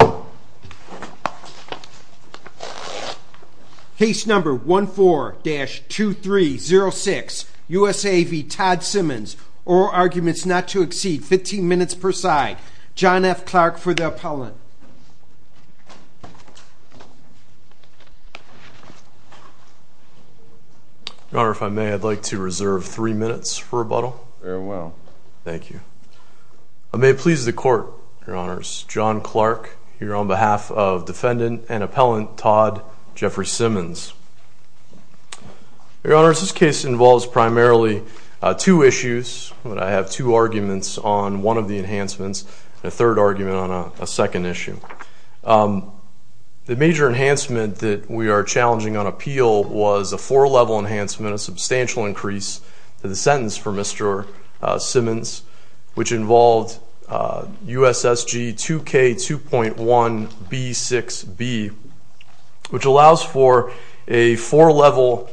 oral arguments not to exceed 15 minutes per side. John F. Clark for the appellant. Your Honor, if I may, I'd like to reserve three minutes for rebuttal. Very well. Thank you. I may please the court, Your Honors. John Clark here on behalf of defendant and appellant Todd Jeffrey Simmons. Your Honors, this case involves primarily two issues. I have two arguments on one of the enhancements, a third argument on a second issue. The major enhancement that we are challenging on appeal was a four level enhancement, a substantial increase to the sentence for Mr. Simmons, which involved USSG 2K2.1B6B, which allows for a four level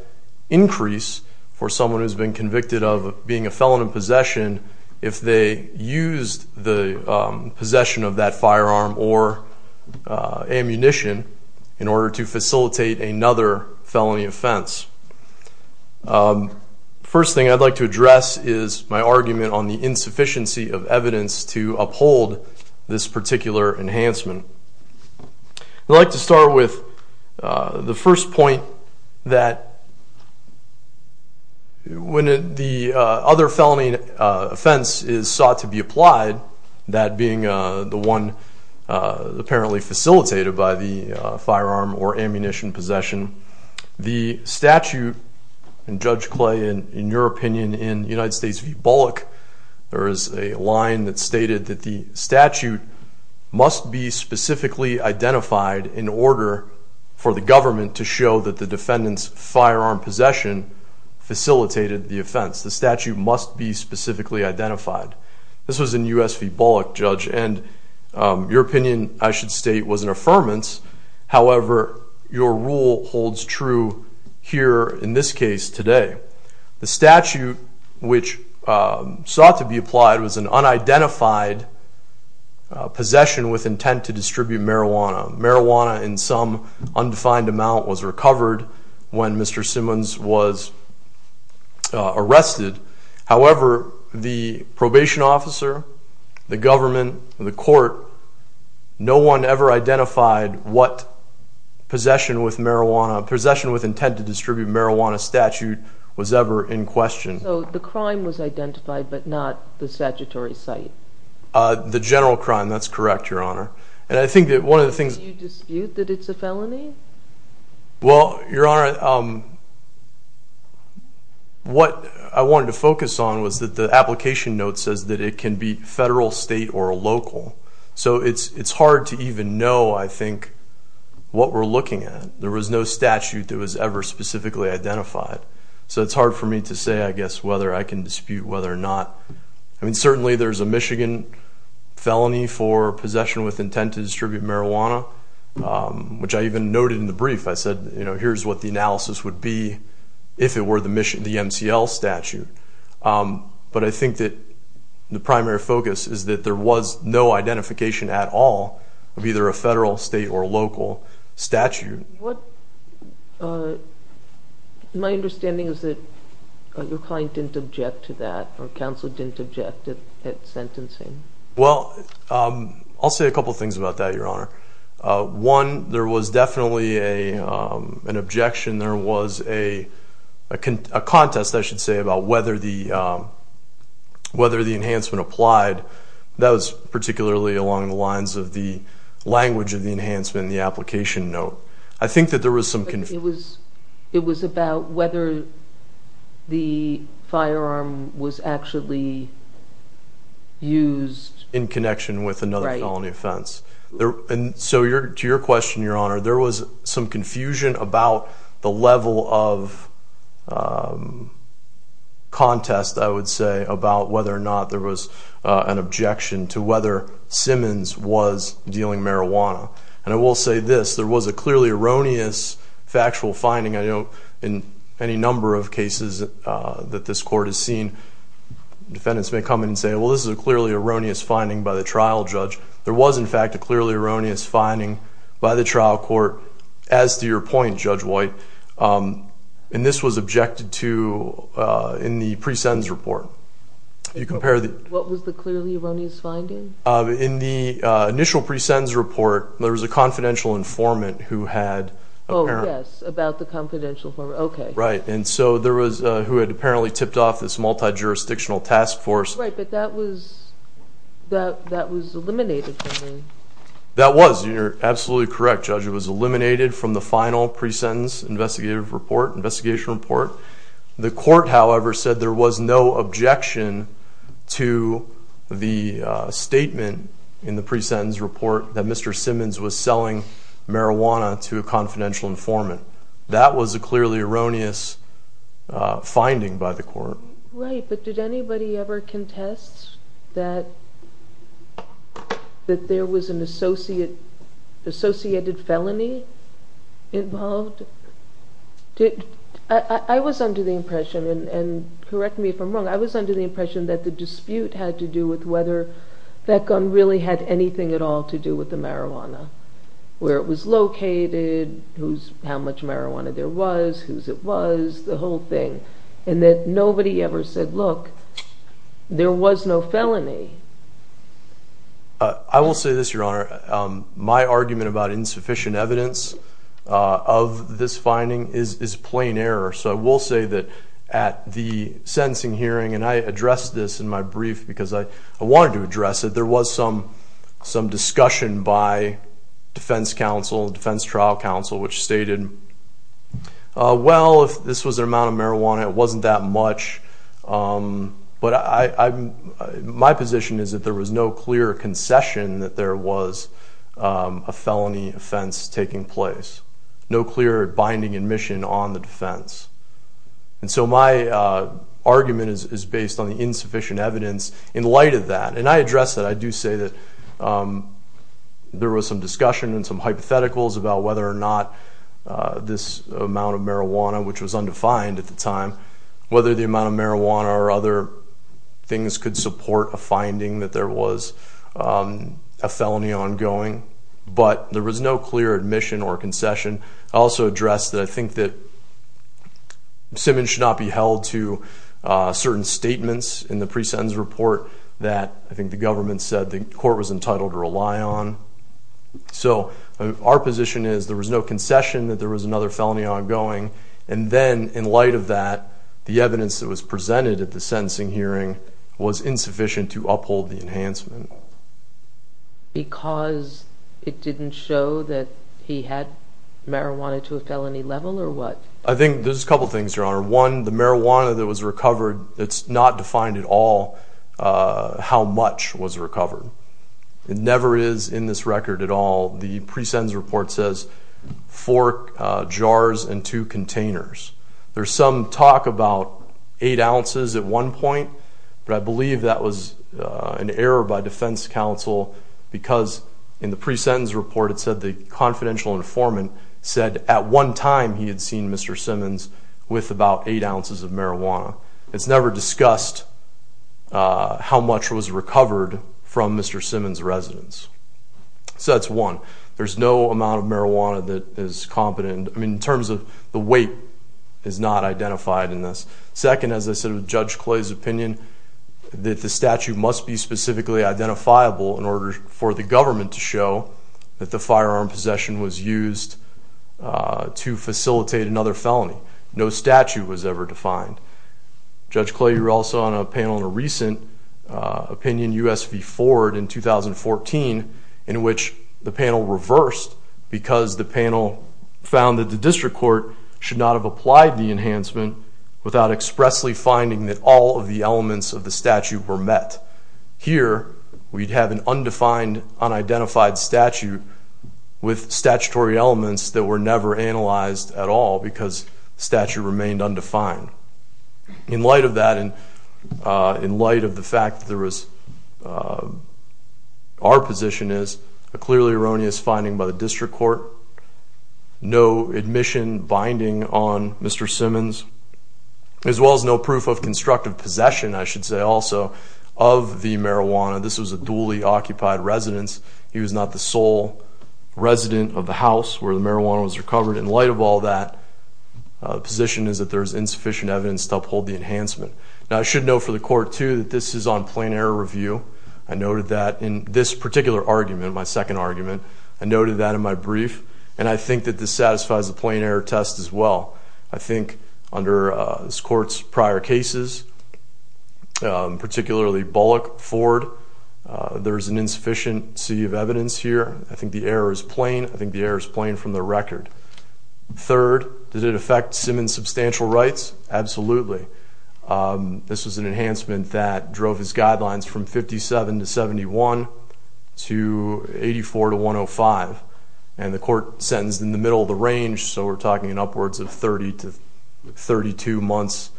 increase for someone who's been convicted of being a felon in possession if they used the possession of that firearm or ammunition in order to facilitate another felony offense. First thing I'd like to address is my argument on the sufficiency of evidence to uphold this particular enhancement. I'd like to start with the first point that when the other felony offense is sought to be applied, that being the one apparently facilitated by the firearm or ammunition possession, the statute, and Judge Clay, in your opinion, I should state was an affirmance. However, your rule holds true here in this case today. The statute, which sought to be applied, was an unidentified possession with intent to distribute marijuana. Marijuana in some undefined amount was recovered when Mr. Simmons was arrested. However, the probation officer, the government, the court, no one ever identified what possession with marijuana, possession with intent to identify, but not the statutory site. The general crime. That's correct, Your Honor. And I think that one of the things you dispute that it's a felony. Well, Your Honor, what I wanted to focus on was that the application note says that it can be federal, state, or local. So it's hard to even know, I think, what we're looking at. There was no statute that was ever specifically identified. So it's hard for me to say, I guess, whether I can dispute whether or not. I mean, certainly there's a Michigan felony for possession with intent to distribute marijuana, which I even noted in the brief. I said, you know, here's what the analysis would be if it were the MCL statute. But I think that the primary focus is that there was no identification at all of either a federal, state, or local statute. My understanding is that your client didn't object to that, or counsel didn't object at sentencing. Well, I'll say a couple of things about that, Your Honor. One, there was definitely an objection. There was a contest, I should say, about whether the enhancement applied. That was I think that there was some... It was about whether the firearm was actually used... In connection with another felony offense. And so to your question, Your Honor, there was some confusion about the level of contest, I would say, about whether or not there was an objection to whether Simmons was dealing marijuana. And I will say this, there was a clearly erroneous factual finding. I know in any number of cases that this court has seen, defendants may come in and say, well, this is a clearly erroneous finding by the trial judge. There was, in fact, a clearly erroneous finding by the trial court, as to your point, Judge White. And this was objected to in the pre-sentence report. You compare the... What was the clearly erroneous finding? In the pre-sentence report, there was a confidential informant who had... Oh, yes. About the confidential informant. Okay. Right. And so there was, who had apparently tipped off this multi-jurisdictional task force. Right. But that was eliminated from the... That was. You're absolutely correct, Judge. It was eliminated from the final pre-sentence investigative report, investigation report. The court, however, said there was no objection to the statement in the pre-sentence report that Mr. Simmons was selling marijuana to a confidential informant. That was a clearly erroneous finding by the court. Right. But did anybody ever contest that there was an associated felony involved? I was under the impression, and correct me if I'm wrong, I was under the impression that the dispute had to do with whether that gun really had anything at all to do with the marijuana. Where it was located, who's... How much marijuana there was, whose it was, the whole thing. And that nobody ever said, look, there was no felony. I will say this, Your Honor. My argument about insufficient evidence of this finding is plain error. So I will say that at the sentencing hearing, and I addressed this in my brief because I wanted to address it, there was some discussion by defense counsel, defense trial counsel, which stated, well, if this was the amount of marijuana, it wasn't that much. But my position is that there was no clear concession that there was a felony offense taking place. No clear binding admission on the defense. And so my argument is based on the insufficient evidence in light of that. And I address that. I do say that there was some discussion and some hypotheticals about whether or not this amount of marijuana, which was a felony ongoing, but there was no clear admission or concession. I also address that I think that Simmons should not be held to certain statements in the pre-sentence report that I think the government said the court was entitled to rely on. So our position is there was no concession that there was another felony ongoing. And then in light of that, the evidence that was found in the pre-sentence report, it was not confirmed that he was held because it didn't show that he had marijuana to a felony level or what? I think there's a couple things, Your Honor. One, the marijuana that was recovered, it's not defined at all how much was recovered. It never is in this record at all. The pre-sentence report says four jars and two containers. There's some talk about eight ounces at one point, but I believe that was an error by defense counsel. Because in the pre-sentence report, it said the confidential informant said at one time he had seen Mr. Simmons with about eight ounces of marijuana. It's never discussed how much was recovered from Mr. Simmons' residence. So that's one. There's no amount of marijuana that is competent. I mean, in terms of the weight is not identified in this. Second, as I said, with Judge Clay's opinion, that the statute must be specifically identifiable in order for the government to show that the firearm possession was used to facilitate another felony. No statute was ever defined. Judge Clay, you were also on a panel in a recent opinion, US v. Ford in 2014, in which the panel reversed because the panel found that the district court should not have applied the enhancement without expressly finding that all of the elements of the statute were met. Here, we'd have an undefined, unidentified statute with statutory elements that were never analyzed at all because the statute remained undefined. In light of that, in light of the fact that there was, our position is a clearly erroneous finding by the district court. No admission binding on Mr. Simmons, as well as no proof of constructive possession, I should say also, of the marijuana. This was a duly occupied residence. He was not the sole resident of the house where the marijuana was recovered. In light of all that, the position is that there is insufficient evidence to uphold the enhancement. Now, I should note for the court, too, that this is on plain error review. I noted that in this particular argument, my second argument, I noted that in my brief, and I think that this satisfies the plain error test as well. I think under this court's prior cases, particularly Bullock, Ford, there is an insufficiency of evidence here. I think the error is plain. I think the error is plain from the record. Third, did it affect Simmons' substantial rights? Absolutely. This was an enhancement that drove his guidelines from 57 to 71 to 84 to 105. And the court sentenced in the middle of the range, so we're talking upwards of 30 to 32 months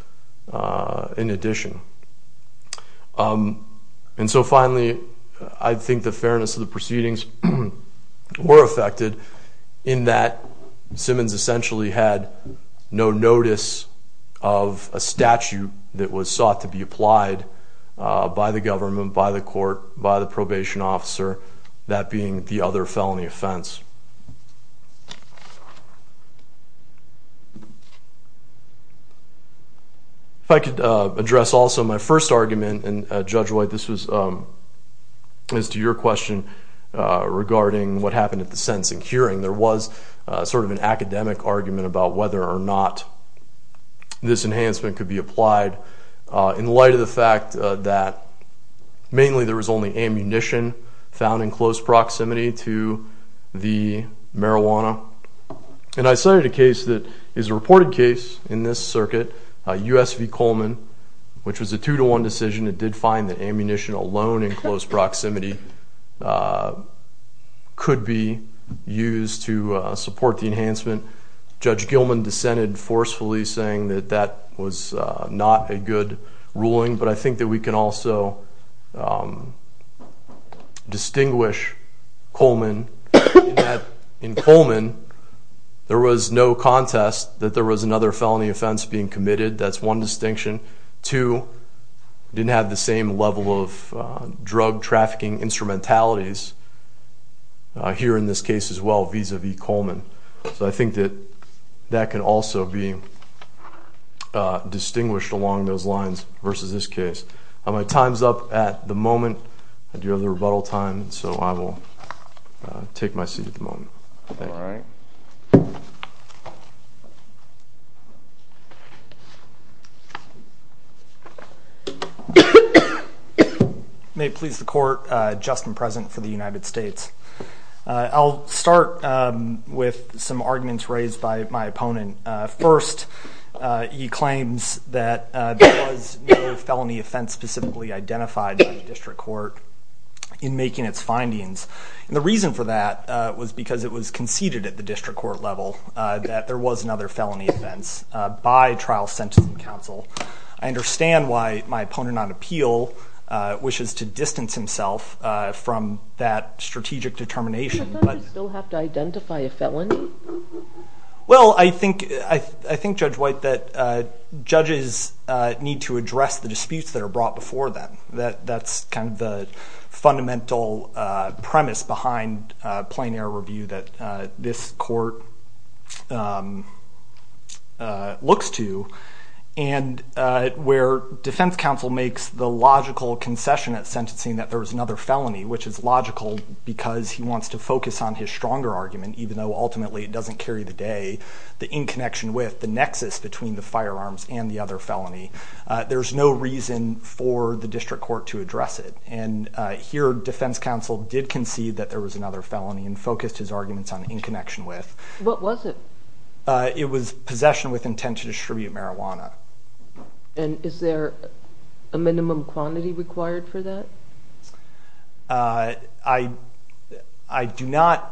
in addition. And so finally, I think the fairness of the proceedings were affected in that Simmons essentially had no notice of a statute that was sought to be applied by the government, by the court, by the probation officer, that being the other felony offense. If I could address also my first argument, and Judge White, this was as to your question regarding what happened at the sentencing hearing. There was sort of an academic argument about whether or not this enhancement could be applied in light of the fact that mainly there was only ammunition found in close proximity to the marijuana. And I cited a case that is a reported case in this circuit, US v. Coleman, which was a two-to-one decision that did find that ammunition alone in close proximity could be used to support the enhancement. Judge Gilman dissented forcefully saying that that was not a good ruling, but I think that we can also distinguish Coleman in that in Coleman there was no contest that there was another felony offense being committed. That's one distinction. Two, didn't have the same level of drug trafficking instrumentalities here in this case as well vis-a-vis Coleman. So I think that that can also be distinguished along those lines versus this case. My time's up at the moment. I do have the rebuttal time, so I will take my seat at the moment. All right. May it please the court, just and present for the United States. I'll start with some arguments raised by my opponent. First, he claims that there was no felony offense specifically identified by the district court in making its findings. And the reason for that was because it was conceded at the district court level that there was another felony offense by trial sentencing council. I understand why my opponent on appeal wishes to distance himself from that strategic determination. Does that mean you still have to identify a felony? Well, I think, Judge White, that judges need to address the disputes that are brought before them. That's kind of the fundamental premise behind plain error review that this court looks to. And where defense counsel makes the logical concession at sentencing that there was another felony, which is logical because he wants to focus on his stronger argument, even though ultimately it doesn't carry the day, the in connection with the nexus between the firearms and the other felony. There's no reason for the district court to address it. And here, defense counsel did concede that there was another felony and focused his arguments on in connection with. What was it? It was possession with intent to distribute marijuana. And is there a minimum quantity required for that? I do not.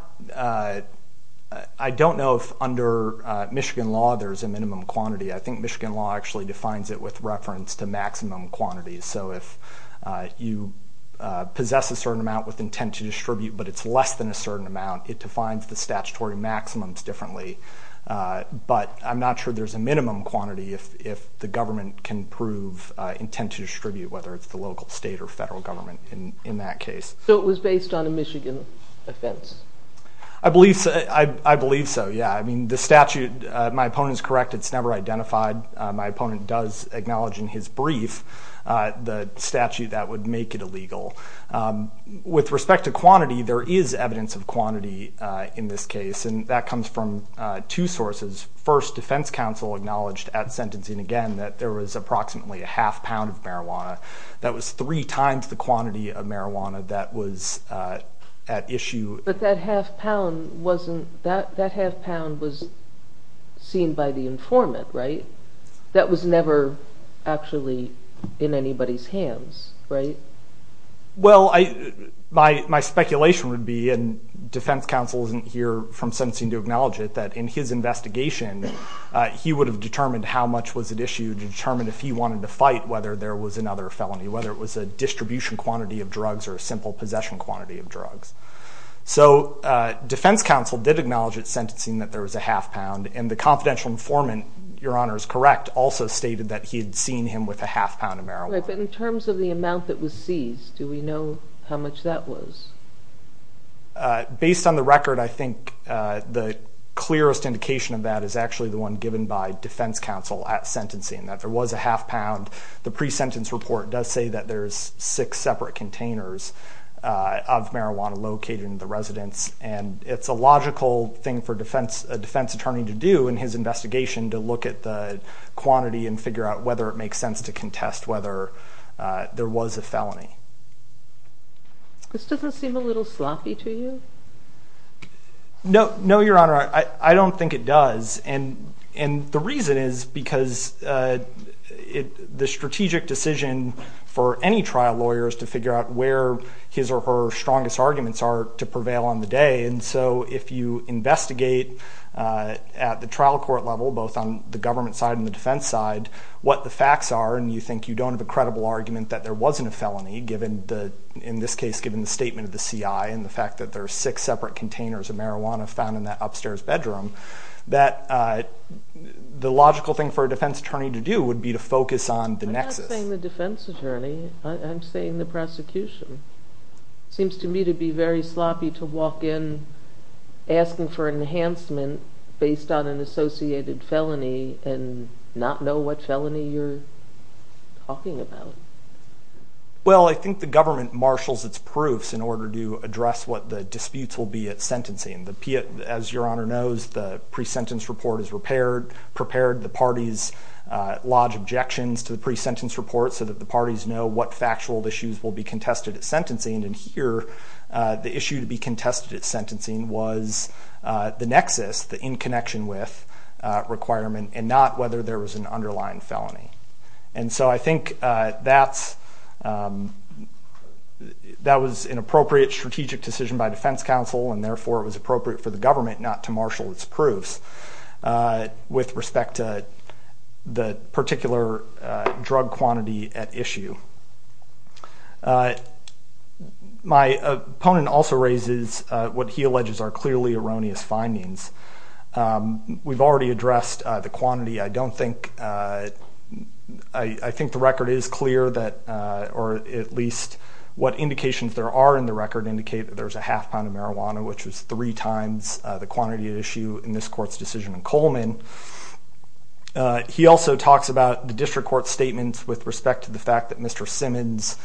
I don't know if under Michigan law there is a minimum quantity. I think Michigan law actually defines it with reference to maximum quantities. So if you possess a certain amount with intent to distribute but it's less than a certain amount, it defines the statutory maximums differently. But I'm not sure there's a minimum quantity if the government can prove intent to distribute, whether it's the local state or federal government in that case. So it was based on a Michigan offense? I believe so, yeah. I mean, the statute, my opponent is correct, it's never identified. My opponent does acknowledge in his brief the statute that would make it illegal. With respect to quantity, there is evidence of quantity in this case, and that comes from two sources. First, defense counsel acknowledged at sentencing again that there was approximately a half pound of marijuana. That was three times the quantity of marijuana that was at issue. But that half pound was seen by the informant, right? That was never actually in anybody's hands, right? Well, my speculation would be, and defense counsel isn't here from sentencing to acknowledge it, that in his investigation he would have determined how much was at issue to determine if he wanted to fight whether there was another felony, whether it was a distribution quantity of drugs or a simple possession quantity of drugs. So defense counsel did acknowledge at sentencing that there was a half pound, and the confidential informant, Your Honor is correct, also stated that he had seen him with a half pound of marijuana. Right, but in terms of the amount that was seized, do we know how much that was? Based on the record, I think the clearest indication of that is actually the one given by defense counsel at sentencing, that there was a half pound. The pre-sentence report does say that there's six separate containers of marijuana located in the residence, and it's a logical thing for a defense attorney to do in his investigation to look at the quantity and figure out whether it makes sense to contest whether there was a felony. This doesn't seem a little sloppy to you. No, Your Honor, I don't think it does. The reason is because the strategic decision for any trial lawyer is to figure out where his or her strongest arguments are to prevail on the day, and so if you investigate at the trial court level, both on the government side and the defense side, what the facts are, and you think you don't have a credible argument that there wasn't a felony, in this case given the statement of the CI and the fact that there are six separate containers of marijuana found in that upstairs bedroom, that the logical thing for a defense attorney to do would be to focus on the nexus. I'm not saying the defense attorney. I'm saying the prosecution. It seems to me to be very sloppy to walk in asking for enhancement based on an associated felony and not know what felony you're talking about. Well, I think the government marshals its proofs in order to address what the disputes will be at sentencing. As Your Honor knows, the pre-sentence report is prepared. The parties lodge objections to the pre-sentence report so that the parties know what factual issues will be contested at sentencing, and here the issue to be contested at sentencing was the nexus, the in connection with requirement, and not whether there was an underlying felony, and so I think that was an appropriate strategic decision by defense counsel and therefore it was appropriate for the government not to marshal its proofs with respect to the particular drug quantity at issue. My opponent also raises what he alleges are clearly erroneous findings. We've already addressed the quantity. I don't think, I think the record is clear that, or at least what indications there are in the record indicate that there's a half pound of marijuana, which was three times the quantity at issue in this court's decision in Coleman. He also talks about the district court statements with respect to the fact that Mr. Simmons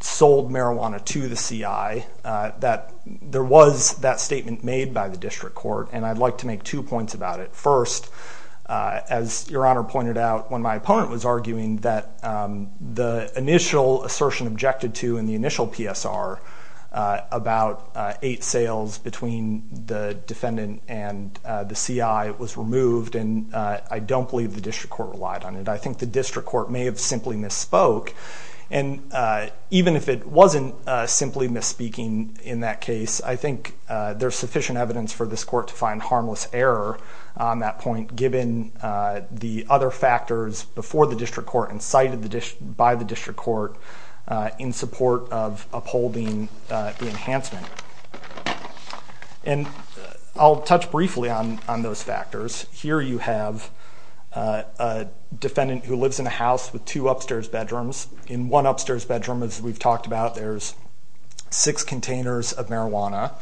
sold marijuana to the CI, that there was that statement made by the district court, and I'd like to make two points about it. First, as Your Honor pointed out when my opponent was arguing that the initial assertion objected to in the initial PSR about eight sales between the defendant and the CI was removed, and I don't believe the district court relied on it. I think the district court may have simply misspoke, and even if it wasn't simply misspeaking in that case, I think there's sufficient evidence for this court to find harmless error on that point given the other factors before the district court and cited by the district court in support of upholding the enhancement. And I'll touch briefly on those factors. Here you have a defendant who lives in a house with two upstairs bedrooms. In one upstairs bedroom, as we've talked about, there's six containers of marijuana.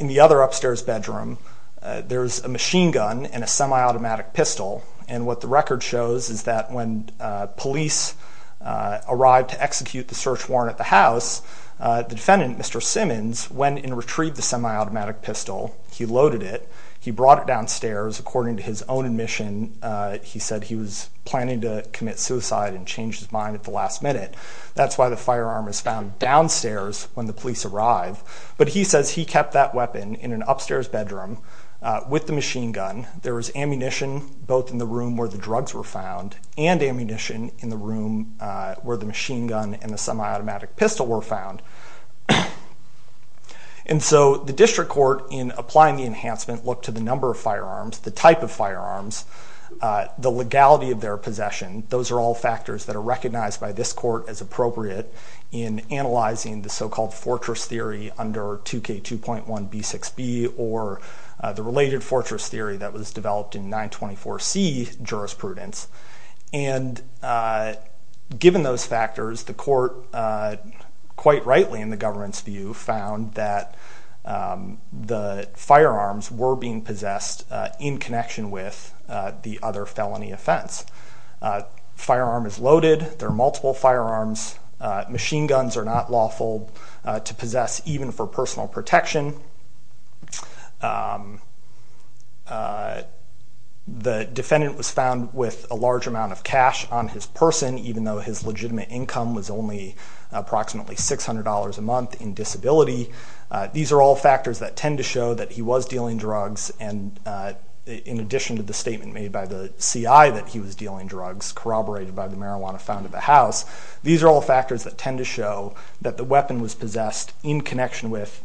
In the other upstairs bedroom, there's a machine gun and a semi-automatic pistol, and what the record shows is that when police arrived to execute the search warrant at the house, the defendant, Mr. Simmons, went and retrieved the semi-automatic pistol. He loaded it. He brought it downstairs. According to his own admission, he said he was planning to commit suicide and changed his mind at the last minute. That's why the firearm was found downstairs when the police arrived. But he says he kept that weapon in an upstairs bedroom with the machine gun. There was ammunition both in the room where the drugs were found and ammunition in the room where the machine gun and the semi-automatic pistol were found. And so the district court, in applying the enhancement, looked to the number of firearms, the type of firearms, the legality of their possession. Those are all factors that are recognized by this court as appropriate in analyzing the so-called fortress theory under 2K2.1b6b or the related fortress theory that was developed in 924C jurisprudence. And given those factors, the court, quite rightly in the government's view, found that the firearms were being possessed in connection with the other felony offense. Firearm is loaded. There are multiple firearms. Machine guns are not lawful to possess, even for personal protection. The defendant was found with a large amount of cash on his person, even though his legitimate income was only approximately $600 a month in disability. These are all factors that tend to show that he was dealing drugs. And in addition to the statement made by the CI that he was dealing drugs, corroborated by the marijuana found at the house, these are all factors that tend to show that the weapon was possessed in connection with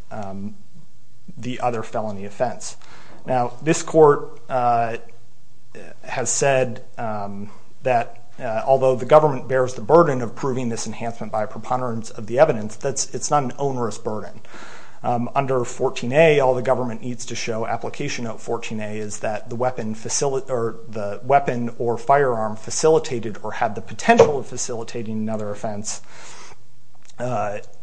the other felony offense. Now, this court has said that although the government bears the burden of proving this enhancement by preponderance of the evidence, it's not an onerous burden. Under 14A, all the government needs to show application of 14A is that the weapon or firearm facilitated or had the potential of facilitating another offense,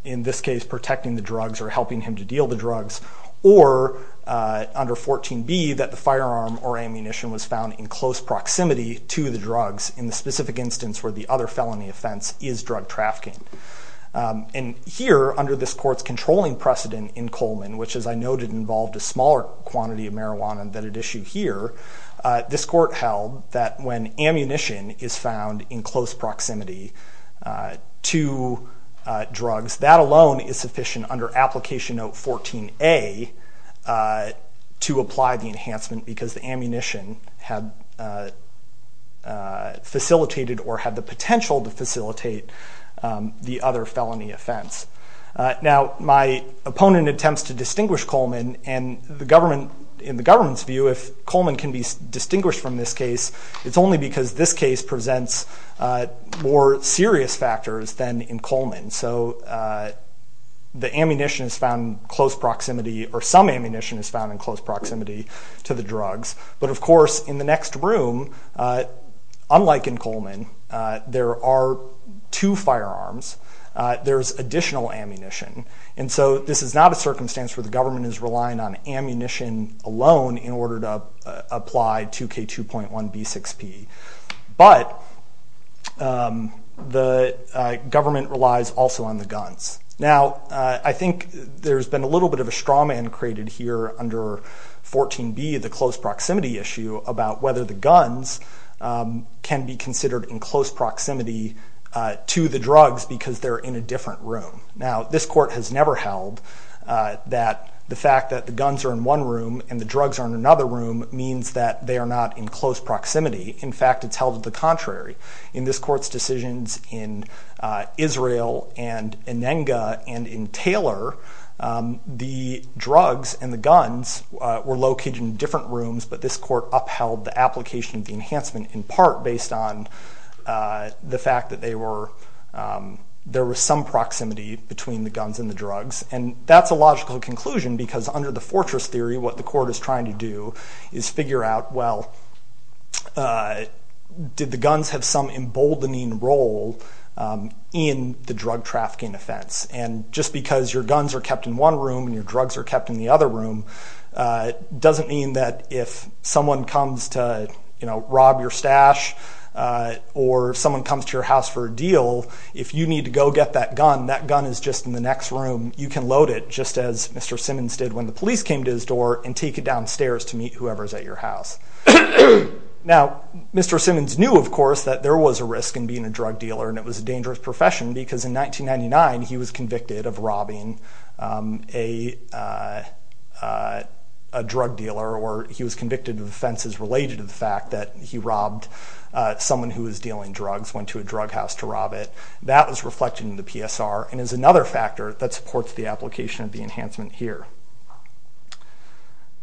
in this case, protecting the drugs or helping him to deal the drugs. Or under 14B, that the firearm or ammunition was found in close proximity to the drugs in the specific instance where the other felony offense is drug trafficking. And here, under this court's controlling precedent in Coleman, which as I noted involved a smaller quantity of marijuana than at issue here, this court held that when ammunition is found in close proximity to drugs, that alone is sufficient under application of 14A to apply the enhancement because the ammunition had facilitated or had the potential to facilitate the other felony offense. Now, my opponent attempts to distinguish Coleman, and in the government's view, if Coleman can be distinguished from this case, it's only because this case presents more serious factors than in Coleman. So the ammunition is found in close proximity, or some ammunition is found in close proximity to the drugs. But of course, in the next room, unlike in Coleman, there are two firearms. There's additional ammunition. And so this is not a circumstance where the government is relying on ammunition alone in order to apply 2K2.1B6P. But the government relies also on the guns. Now, I think there's been a little bit of a strawman created here under 14B, the close proximity issue, about whether the guns can be considered in close proximity to the drugs because they're in a different room. Now, this court has never held that the fact that the guns are in one room and the drugs are in another room means that they are not in close proximity. In fact, it's held to the contrary. In this court's decisions in Israel and in Enga and in Taylor, the drugs and the guns were located in different rooms, but this court upheld the application of the enhancement in part based on the fact that there was some proximity between the guns and the drugs. And that's a logical conclusion because under the fortress theory, what the court is trying to do is figure out, well, did the guns have some emboldening role in the drug trafficking offense? And just because your guns are kept in one room and your drugs are kept in the other room doesn't mean that if someone comes to rob your stash or someone comes to your house for a deal, if you need to go get that gun, that gun is just in the next room. You can load it just as Mr. Simmons did when the police came to his door and take it downstairs to meet whoever's at your house. Now, Mr. Simmons knew, of course, that there was a risk in being a drug dealer and it was a dangerous profession because in 1999, he was convicted of robbing a drug dealer or he was convicted of offenses related to the fact that he robbed someone who was dealing drugs, went to a drug house to rob it. That was reflected in the PSR and is another factor that supports the application of the enhancement here.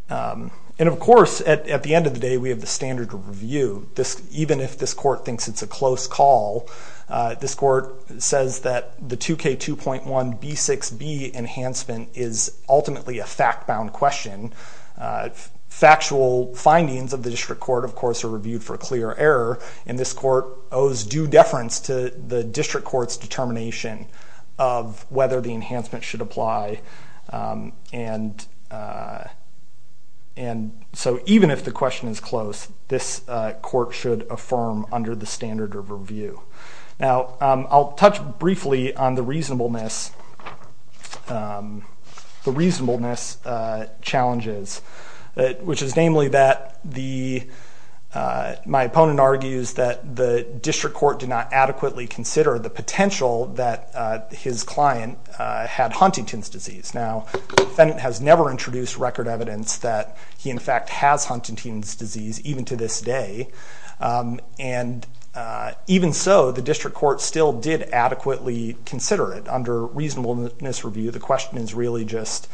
And, of course, at the end of the day, we have the standard of review. Even if this court thinks it's a close call, this court says that the 2K2.1B6B enhancement is ultimately a fact-bound question. Factual findings of the district court, of course, are reviewed for clear error and this court owes due deference to the district court's determination of whether the enhancement should apply. And so even if the question is close, this court should affirm under the standard of review. Now, I'll touch briefly on the reasonableness challenges, which is namely that my opponent argues that the district court did not adequately consider the potential that his client had Huntington's disease. Now, the defendant has never introduced record evidence that he, in fact, has Huntington's disease, even to this day. And even so, the district court still did adequately consider it. Under reasonableness review, the question is really just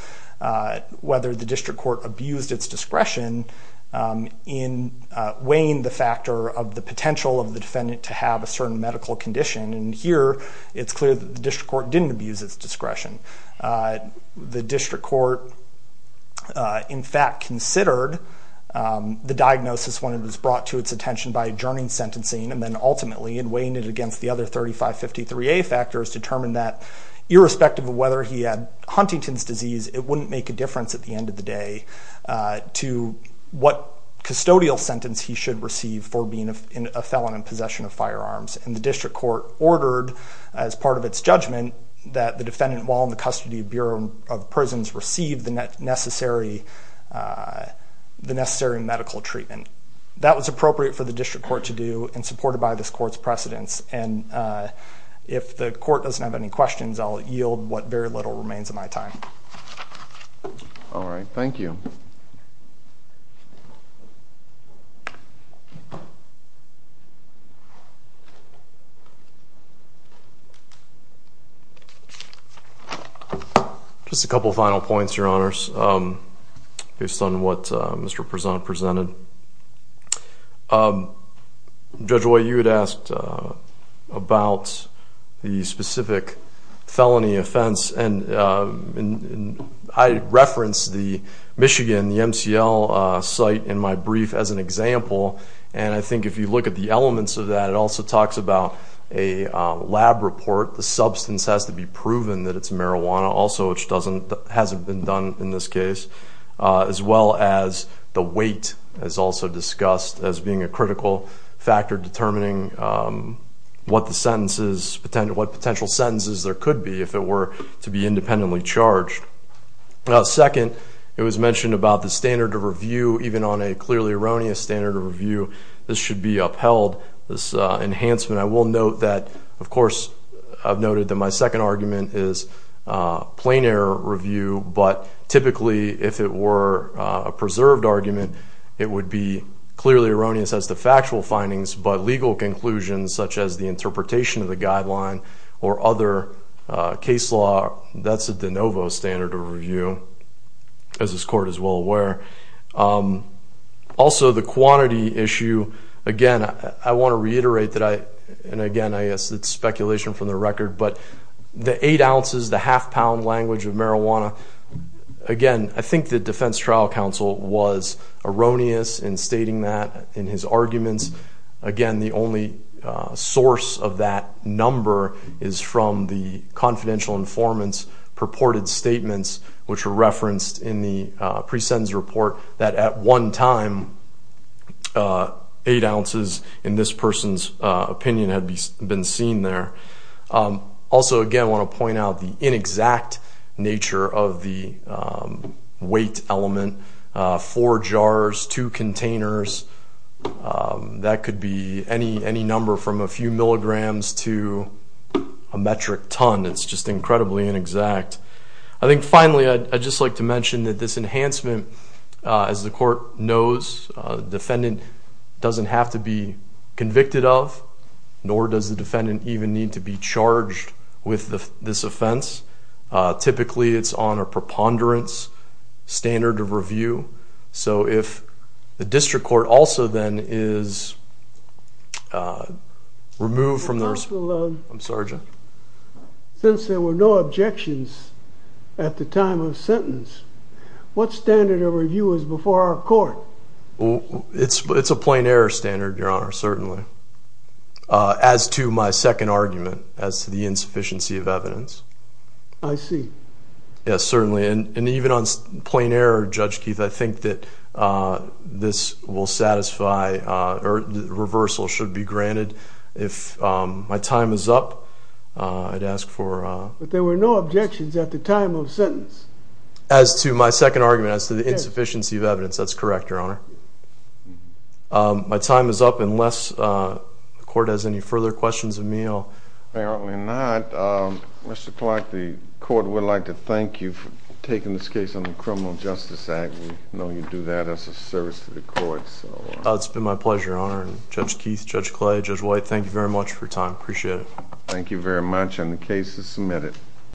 whether the district court abused its discretion in weighing the factor of the potential of the defendant to have a certain medical condition. And here, it's clear that the district court didn't abuse its discretion. The district court, in fact, considered the diagnosis when it was brought to its attention by adjourning sentencing and then ultimately in weighing it against the other 3553A factors, determined that irrespective of whether he had Huntington's disease, it wouldn't make a difference at the end of the day to what custodial sentence he should receive for being a felon in possession of firearms. And the district court ordered, as part of its judgment, that the defendant, while in the custody of Bureau of Prisons, receive the necessary medical treatment. That was appropriate for the district court to do and supported by this court's precedents. And if the court doesn't have any questions, I'll yield what very little remains of my time. All right. Thank you. Just a couple of final points, Your Honors, based on what Mr. Prezant presented. Judge White, you had asked about the specific felony offense. And I referenced the Michigan, the MCL, site in my brief as an example. And I think if you look at the elements of that, it also talks about a lab report. The substance has to be proven that it's marijuana also, which hasn't been done in this case, as well as the weight is also discussed as being a critical factor determining what the sentences, what potential sentences there could be if it were to be independently charged. Second, it was mentioned about the standard of review. Even on a clearly erroneous standard of review, this should be upheld, this enhancement. I will note that, of course, I've noted that my second argument is plain error review. But typically, if it were a preserved argument, it would be clearly erroneous as to factual findings, but legal conclusions such as the interpretation of the guideline or other case law, that's a de novo standard of review, as this court is well aware. Also, the quantity issue. Again, I want to reiterate that I, and again, I guess it's speculation from the record, but the eight ounces, the half-pound language of marijuana, again, I think the defense trial counsel was erroneous in stating that in his arguments. Again, the only source of that number is from the confidential informant's purported statements, which were referenced in the pre-sentence report, that at one time eight ounces, in this person's opinion, had been seen there. Also, again, I want to point out the inexact nature of the weight element. Four jars, two containers, that could be any number from a few milligrams to a metric ton. It's just incredibly inexact. I think, finally, I'd just like to mention that this enhancement, as the court knows, the defendant doesn't have to be convicted of, nor does the defendant even need to be charged with this offense. Typically, it's on a preponderance standard of review. So if the district court also, then, is removed from the... I'm sorry, Judge. Since there were no objections at the time of sentence, what standard of review is before our court? It's a plain error standard, Your Honor, certainly. As to my second argument, as to the insufficiency of evidence. I see. Yes, certainly. And even on plain error, Judge Keith, I think that this will satisfy, or the reversal should be granted. If my time is up, I'd ask for... But there were no objections at the time of sentence. As to my second argument, as to the insufficiency of evidence. That's correct, Your Honor. My time is up, unless the court has any further questions of me. Apparently not. Mr. Clark, the court would like to thank you for taking this case on the Criminal Justice Act. We know you do that as a service to the court. It's been my pleasure, Your Honor. Judge Keith, Judge Clay, Judge White, thank you very much for your time. Appreciate it. Thank you very much. And the case is submitted.